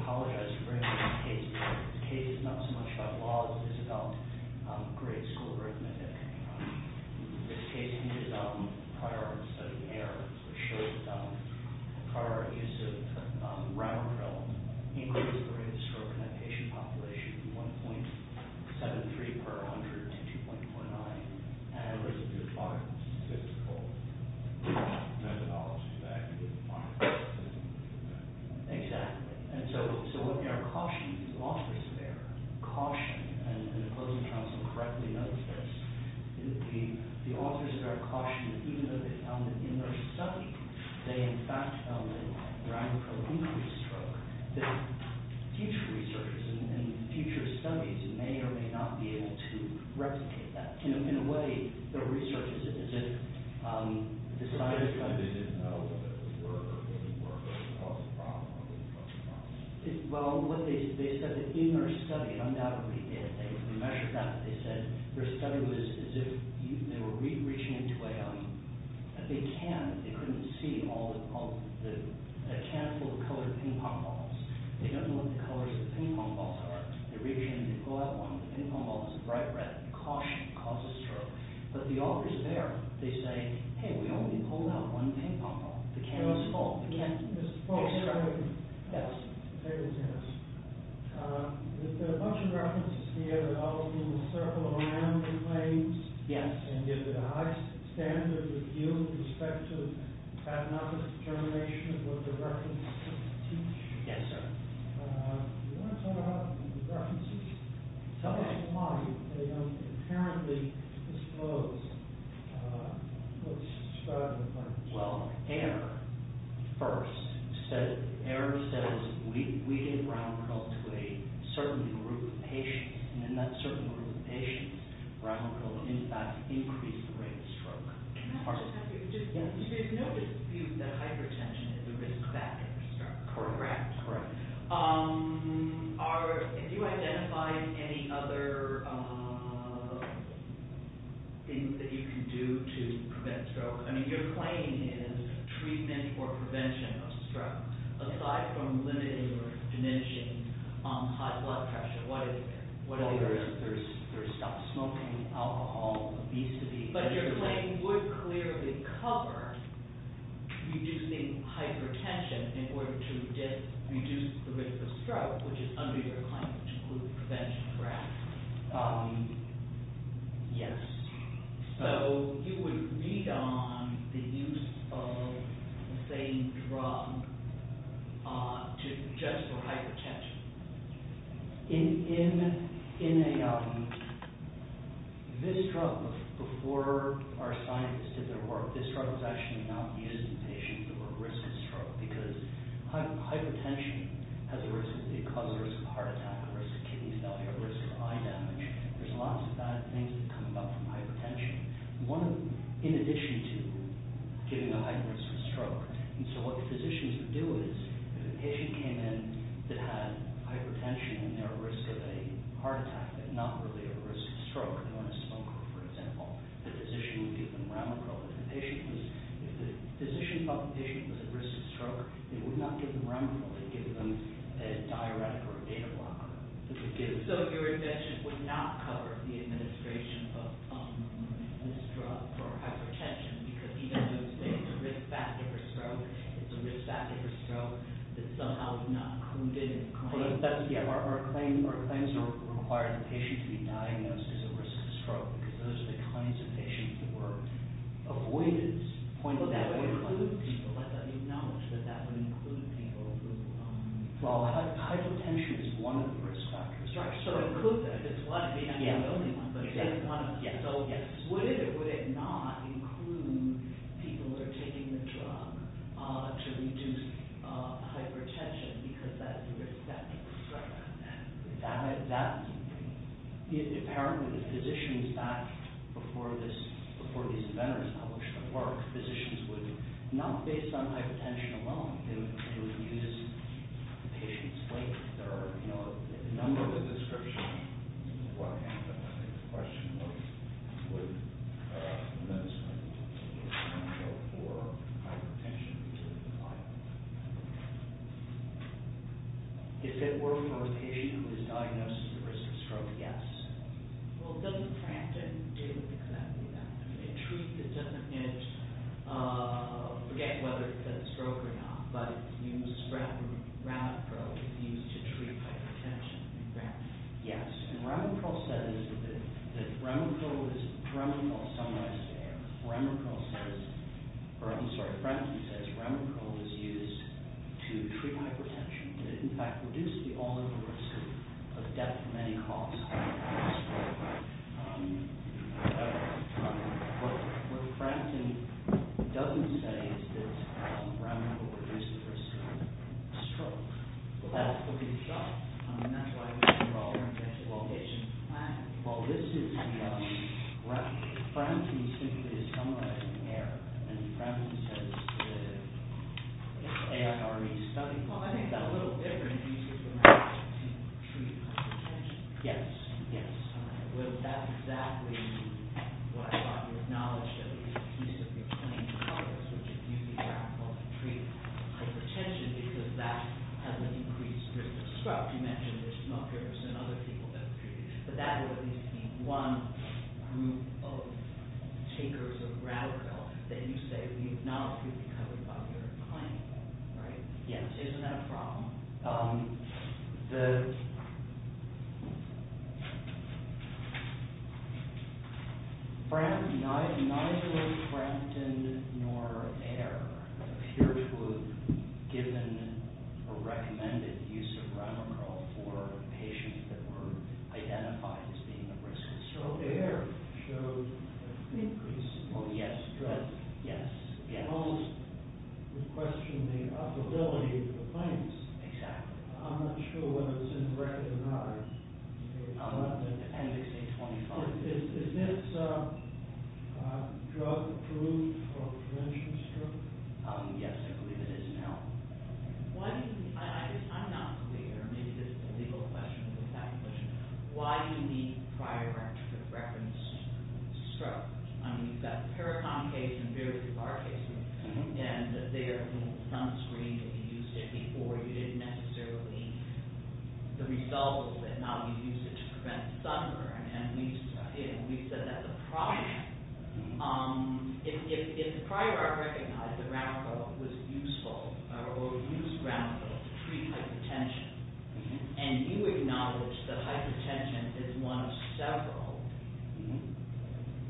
I would like to represent the appellate and I also should apologize for the case. The case is not so much about laws as it is about grades, school grades, and anything like that. This case needs prior study errors which shows that prior use of round pills increased the rate of stroke in that patient population from 1.73 per 100 to 2.49 and it was a good part of the statistical methodology that we didn't find. Exactly, and so what we are cautioning the authors there, caution, and the closing counsel correctly notes this, the authors there caution that even though they found that in their study they in fact found that round pill increased stroke, that future research and future studies may or may not be able to replicate that. In a way, the research is as if the scientists kind of didn't know whether it would work or didn't work or cause a problem or wouldn't cause a problem. Well, what they said is that in their study, and undoubtedly they measured that, they said their study was as if they were reaching into a can that they couldn't see a can full of colored ping-pong balls. They don't know what the colors of the ping-pong balls are. They reach in, they pull out one of the ping-pong balls, it's bright red. They caution, it causes stroke. But the authors there, they say, hey, we only pulled out one ping-pong ball. The can was full. Yes, sir. Yes. Yes. Yes, sir. Do you want to talk about the references? Tell us why they don't apparently disclose what's described in the references. Well, Ayer first said, Ayer says we did round pill to a certain group of patients, and in that certain group of patients, round pill in fact increased the rate of stroke. There's no dispute that hypertension is a risk factor for stroke. Correct. Correct. Are, have you identified any other things that you can do to prevent stroke? I mean, your claim is treatment or prevention of stroke. Aside from limiting or diminishing high blood pressure, what are the others? There's stop smoking, alcohol, obesity. But your claim would clearly cover reducing hypertension in order to reduce the risk of stroke, which is under your claim, which includes prevention of stroke. Yes. So you would read on the use of the same drug just for hypertension. In, in, in a, um, this drug before our scientists did their work, this drug was actually not used in patients who were at risk of stroke because hypertension has a risk, it causes a risk of heart attack, a risk of kidney failure, a risk of eye damage. There's lots of bad things that come about from hypertension. One of them, in addition to giving a high risk for stroke, and so what the physicians would do is if a patient came in that had hypertension and they were at risk of a heart attack but not really at risk of stroke, they were on a smoker, for example, the physician would give them Remicrol. If the patient was, if the physician thought the patient was at risk of stroke, they would not give them Remicrol, they'd give them a diuretic or a data blocker. So your invention would not cover the administration of this drug for hypertension because even though it's a risk factor for stroke, it's a risk factor for stroke, that somehow is not included in the claim. That's, yeah, our, our claims, our claims require the patient to be diagnosed as at risk of stroke because those are the kinds of patients who were avoided, pointed that way. But that would include people, let that be acknowledged, that that would include people who are at risk of stroke. Well, hypertension is one of the risk factors. Right, so include them, it's one, maybe not the only one, but it's one of them. Yes, yes. Would it, would it not include people who are taking the drug to reduce hypertension because that's a risk factor for stroke? That, that, apparently the physicians back before this, before these inventors published the work, physicians would, not based on hypertension alone, they would use the patient's weight, but there are, you know, a number of descriptions of what happened. I think the question was, would the medicine be essential for hypertension to be applied? If it were for a patient who was diagnosed at risk of stroke, yes. Well, doesn't Prampton do exactly that? In truth, it doesn't, it, forget whether it's a stroke or not, but it's used, Ravprobe, it's used to treat hypertension. Ravprobe? Yes, and Ravprobe says that Ravprobe is, Ravprobe summarized there, Ravprobe says, or I'm sorry, Prampton says Ravprobe is used to treat hypertension, to in fact reduce the all-over risk of death from any cause of stroke. However, what Prampton doesn't say is that Ravprobe reduces the risk of stroke. Well, that's what he's got, and that's why he's involved in the hypertension plan. Well, this is the, Prampton simply is summarizing the error, and Prampton says the AFRE study, well, I think that a little different, uses Ravprobe to treat hypertension. Yes, yes. Well, that's exactly what I thought you acknowledged, that it's a piece of your claim to Congress which is using Ravprobe to treat hypertension because that has an increased risk of stroke. You mentioned there's smokers and other people that are treated, but that would at least be one group of takers of Ravprobe that you say we acknowledge would be covered by your claim, right? Yes. Isn't that a problem? The… Neither Prampton nor Ayer appear to have given a recommended use of Ravprobe for patients that were identified as being at risk of stroke. Ayer showed an increase. Oh, yes. Yes. Most would question the availability of the plants. Exactly. I'm not sure whether it's in the record or not. I'll let the appendix say 24. Is this drug approved for prevention of stroke? Yes, I believe it is now. One, I'm not clear, maybe this is a legal question, but why do you need prior reference for stroke? I mean, you've got the Paracon case and various other cases, and they are sunscreen, and you used it before. You didn't necessarily… The result was that now we use it to prevent sunburn, and we said that's a problem. If prior I recognized that Ravprobe was useful or used Ravprobe to treat hypertension, and you acknowledge that hypertension is one of several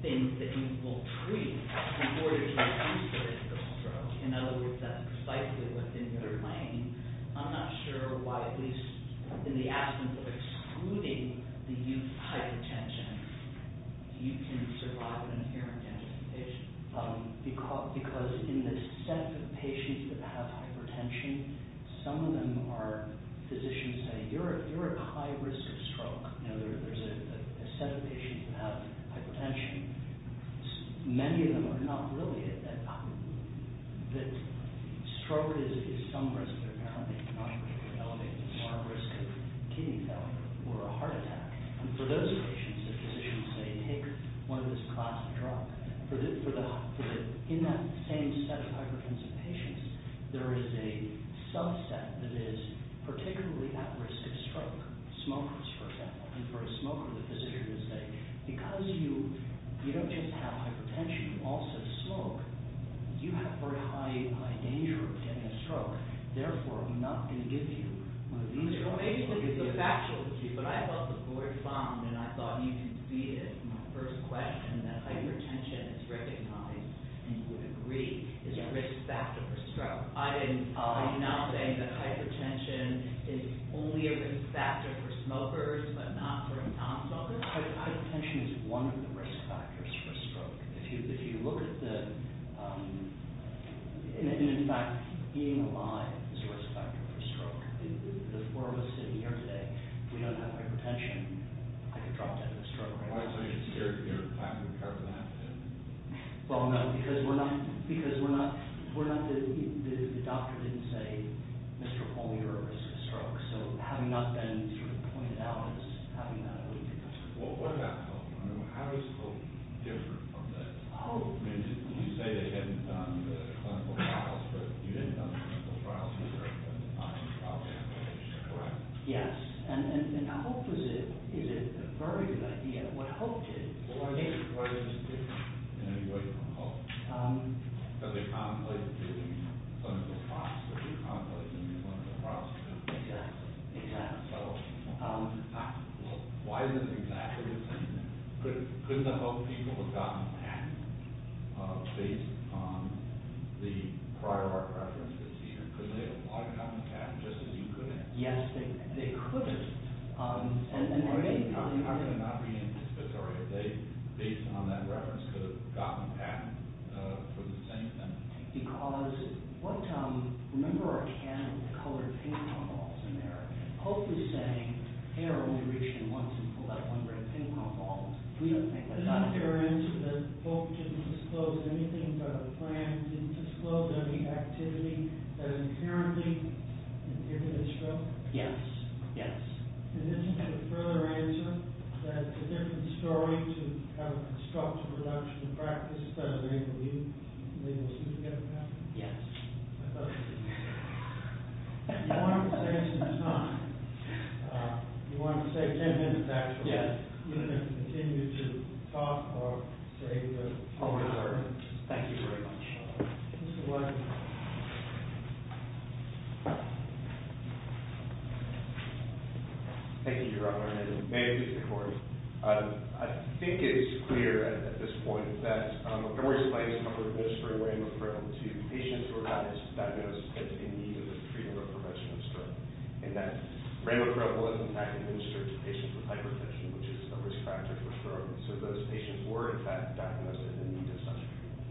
things that you will treat in order to increase the risk of stroke, in other words, that's precisely within your claim, I'm not sure why, at least in the absence of excluding the use of hypertension, you can survive an irritant. Because in the sense of patients that have hypertension, some of them are physicians saying, you're at high risk of stroke. You know, there's a set of patients that have hypertension. Many of them are not really at that… that stroke is some risk, but they're not really going to elevate the risk of kidney failure or a heart attack. And for those patients, the physicians say, take one of this class of drugs. In that same set of hypertensive patients, there is a subset that is particularly at risk of stroke. Smokers, for example. And for a smoker, the physicians say, because you don't just have hypertension, you also smoke, you have very high danger of getting a stroke. Therefore, I'm not going to give you one of these drugs. Well, basically, it's a factual issue, but I thought the point was found, and I thought you could see it in the first question, that hypertension is recognized and you would agree is a risk factor for stroke. Are you now saying that hypertension is only a risk factor for smokers, but not for non-smokers? Hypertension is one of the risk factors for stroke. If you look at the… In fact, being alive is a risk factor for stroke. The four of us sitting here today, if we don't have hypertension, I could drop dead with a stroke right now. So you're scared you're hypercarbohydrate? Well, no, because we're not… The doctor didn't say, Mr. Holm, you're at risk of stroke. So having not been sort of pointed out as having that… Well, what about health? How is health different from this? You say they hadn't done the clinical trials, but you hadn't done the clinical trials, and you weren't going to find a problem, correct? Yes, and health is a very good idea. What Hope did… Well, why is this different in any way from Hope? Because they contemplated doing clinical trials, but they contemplated doing clinical trials. Exactly, exactly. So why is it exactly the same? Couldn't the Hope people have gotten better based on the prior heart reference this year? Couldn't they have gotten better just as you could have? Yes, they could have. How could it not be anticipatory if they, based on that reference, could have gotten better for the same thing? Because what… Remember our can of colored ping-pong balls in there. Hope is saying, hey, I'll only reach in once and pull that one red ping-pong ball. We don't think that's… Is it not fair to answer that Hope didn't disclose anything about a plan, didn't disclose any activity that is inherently inferior to stroke? Yes, yes. And this is a further answer that a different story to have a constructive reduction in practice doesn't mean we'll soon get it back? Yes. Okay. If you want to say something, it's fine. If you want to stay 10 minutes, actually, you can continue to talk or say whatever. Thank you very much. You're welcome. Thank you, Your Honor. May I speak to Corey? I think it's clear at this point that when we're explaining the comfort of administering rainbow krill to patients who were diagnosed in need of the treatment or prevention of stroke and that rainbow krill was, in fact, administered to patients with hypertension, which is a risk factor for stroke. So those patients were, in fact, diagnosed in need of such treatment.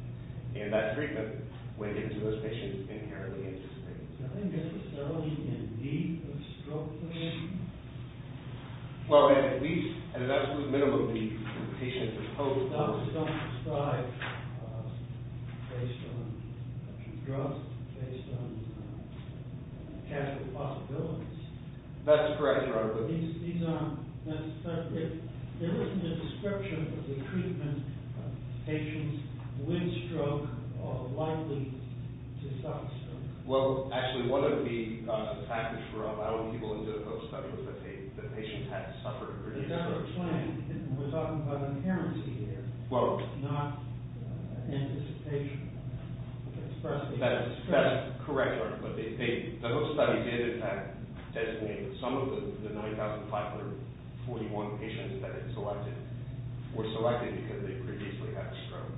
And that treatment went into those patients inherently anticipatory. Is there any necessity in need of stroke prevention? Well, at least, at an absolute minimum, the patients are supposed to be. Doctors don't prescribe based on trust, based on casual possibilities. That's correct, Your Honor. These aren't necessarily... There isn't a description of the treatment patients with stroke are likely to suffer from. Well, actually, one of the factors for allowing people into the Hope Study was that the patients had suffered previous strokes. We're talking about inherency here, not anticipation. That's correct, Your Honor. But the Hope Study did, in fact, designate that some of the 9,541 patients that it selected were selected because they previously had a stroke.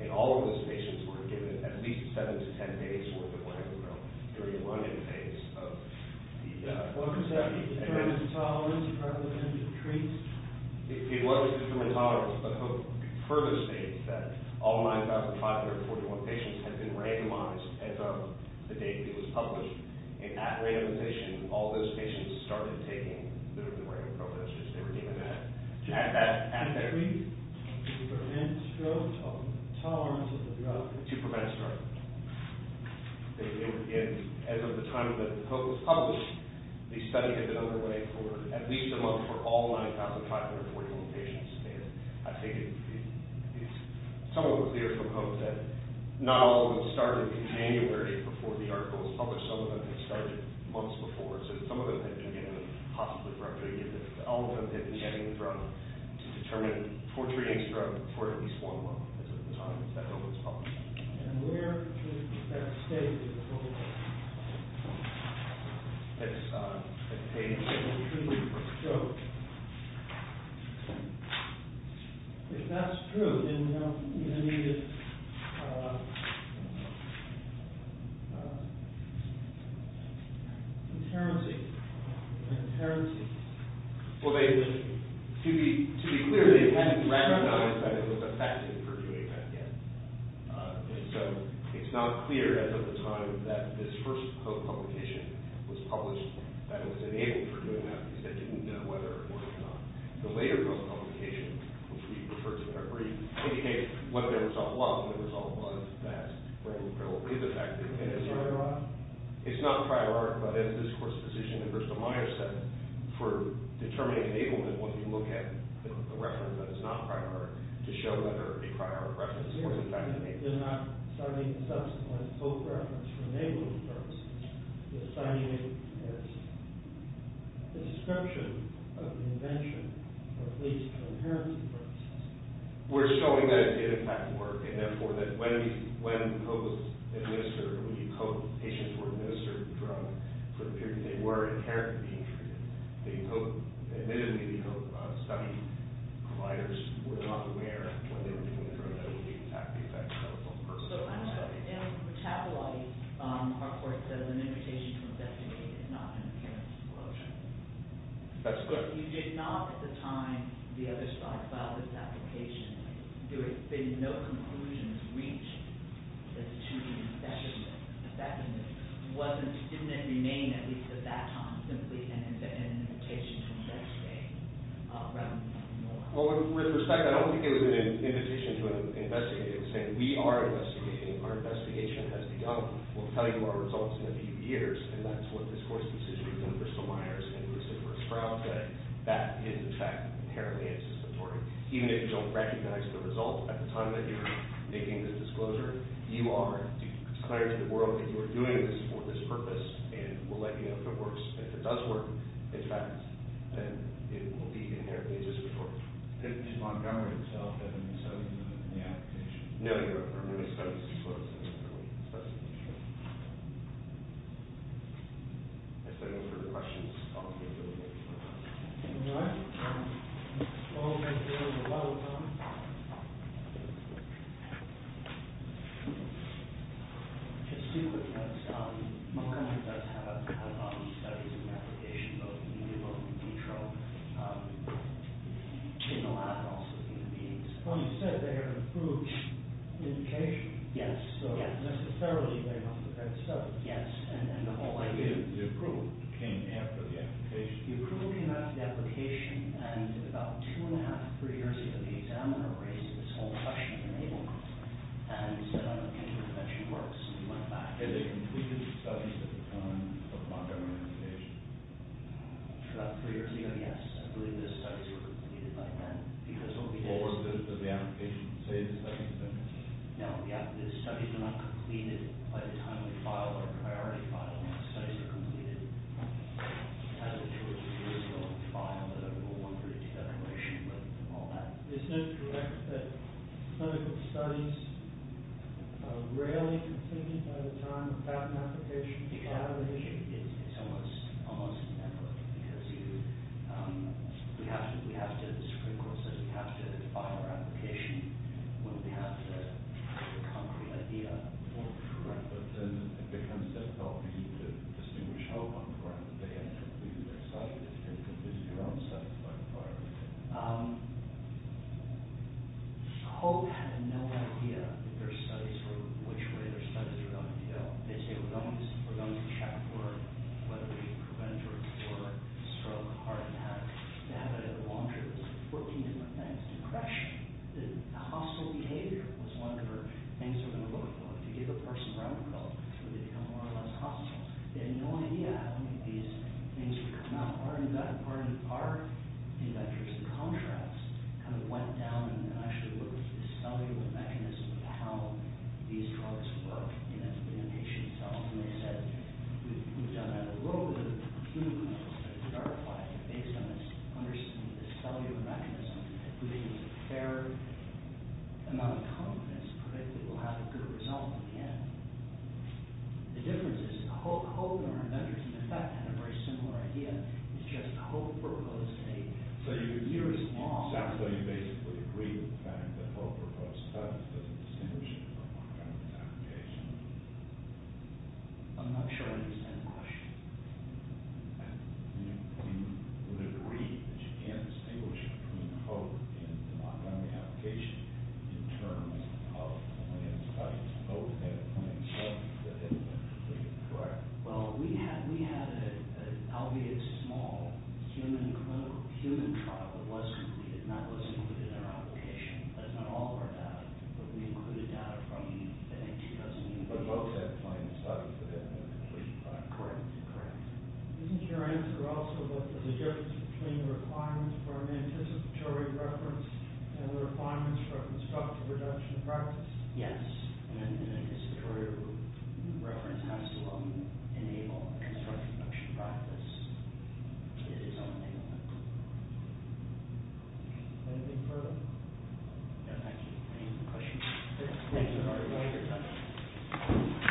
And all of those patients were given at least 7 to 10 days worth of landfill during the run-in phase of the study. What was that determined tolerance and prevalence of the treats? It wasn't determined tolerance, but Hope further states that all 9,541 patients had been randomized as of the date it was published. And at randomization, all those patients started taking the random protesters. They were given that at their... To prevent stroke, tolerance of the drug. To prevent stroke. And as of the time that Hope was published, the study had been underway for at least a month for all 9,541 patients. And I think it's somewhat clear from Hope that not all of them started in January before the article was published. Some of them had started months before. So some of them had been given possibly directly. All of them had been getting the drug to determine poor treating stroke for at least one month as of the time that Hope was published. And where is that state in the world that pays for treating stroke? If that's true, then how many... Inherency. Inherency. Well, they... To be clear, they hadn't randomized that it was effective for doing that yet. So it's not clear as of the time that this first Hope publication was published that it was enabled for doing that because they didn't know whether or not the later Hope publication, which we referred to in our brief, indicates what the result was. The result was that random pill is effective. It's not a prior art, but as this course physician, Ernesto Myers said, for determining enablement, we look at the reference that is not prior art to show whether a prior art reference was effective. They're not citing subsequent Hope reference for enabling purposes. They're citing it as description of the invention or at least for inherency purposes. We're showing that it did, in fact, work and, therefore, that when Hope was administered, when Hope patients were administered the drug for the period they were inherently being treated, admittedly, the Hope study providers were not aware when they were doing the drug that it would be effective. So, I'm just wondering, in the capillary, our court says an invitation to investigate is not an appearance of coercion. That's correct. You did not, at the time, the other side filed this application. There had been no conclusions reached that the two-week investigation didn't remain, at least at that time, simply an invitation to investigate. Well, with respect, I don't think it was an invitation to investigate. It was saying, we are investigating. Our investigation has begun. We'll tell you our results in a few years and that's what this court's decision was in Bristol-Myers and it was in Verschkrauze. That is, in fact, inherently anticipatory. Even if you don't recognize the result at the time that you're making the disclosure, you are declaring to the world that you are doing this for this purpose and we'll let you know if it works. If it does work, in fact, then it will be inherently anticipatory. Did Montgomery himself have any say in the application? No, no, no. He was supposed to disclose specifically to the jury. If there are no further questions, I'll see you in a little bit. All right. Mr. Sloan, would you like to go to the microphone? Just to be clear, Montgomery does have a lot of studies in the application, both in the New York and Petro, in the lab and also in the meetings. Well, you said they had an approved indication. Yes. So, necessarily, they must have had a study. Yes. And the whole idea of the approval came after the application. The approval came after the application and about two and a half, three years after the examiner raised this whole question in the Naval Group and said, I don't think the intervention works. And he went back. Had they completed the studies at the time of Montgomery's application? About three years ago, yes. I believe the studies were completed by then. Or did the application say the studies had been completed? No, yeah. The studies were not completed by the time we filed our priority file. The studies were completed at the time we were going to file the No. 132 declaration and all that. Is it correct that clinical studies are rarely completed by the time we file an application? The examination is almost never because we have to, the Supreme Court says, we have to file our application when we have the concrete idea. Well, correct, but then it becomes difficult for me to distinguish hope on the part of the patient who completed their studies and completed their own studies by the time. Hope had no idea that their studies were, which way their studies were going to go. They say, we're going to check for whether we prevent or explore stroke, heart attack, they have it at a laundry list of 14 different things. Depression, the hostile behavior was one of the things they were going to look for. If you give a person round-the-clock, so they become more or less hostile, they had no idea how many of these things would come up. Our inventors, in contrast, kind of went down and actually looked at the cellular mechanism of how these drugs work in a patient's cells. And they said, we've done a little bit of clinical studies, based on this understanding of the cellular mechanism that produces a fair amount of components that will have a good result in the end. The difference is, the whole group of our inventors, in fact, had a very similar idea. It's just co-proposed data. So, for years long... So, you basically agree with the fact that co-proposed studies doesn't distinguish between co-proposed applications? I'm not sure I understand the question. You would agree that you can't distinguish between co-proposed and non-co-proposed applications in terms of planned studies, co-planned studies that have been completed? Correct. Well, we had an albeit small human trial that was completed and that was included in our application. That's not all of our data, but we included data from the 2000... But co-planned studies that have been completed. Correct, correct. Isn't your answer also that there's a difference between the requirements for an anticipatory reference and the requirements for a constructive reduction practice? Yes. An anticipatory reference has to allow you to enable constructive reduction practice. It is something that... Anything further? No, thank you. Any other questions? Good. Thanks for your time.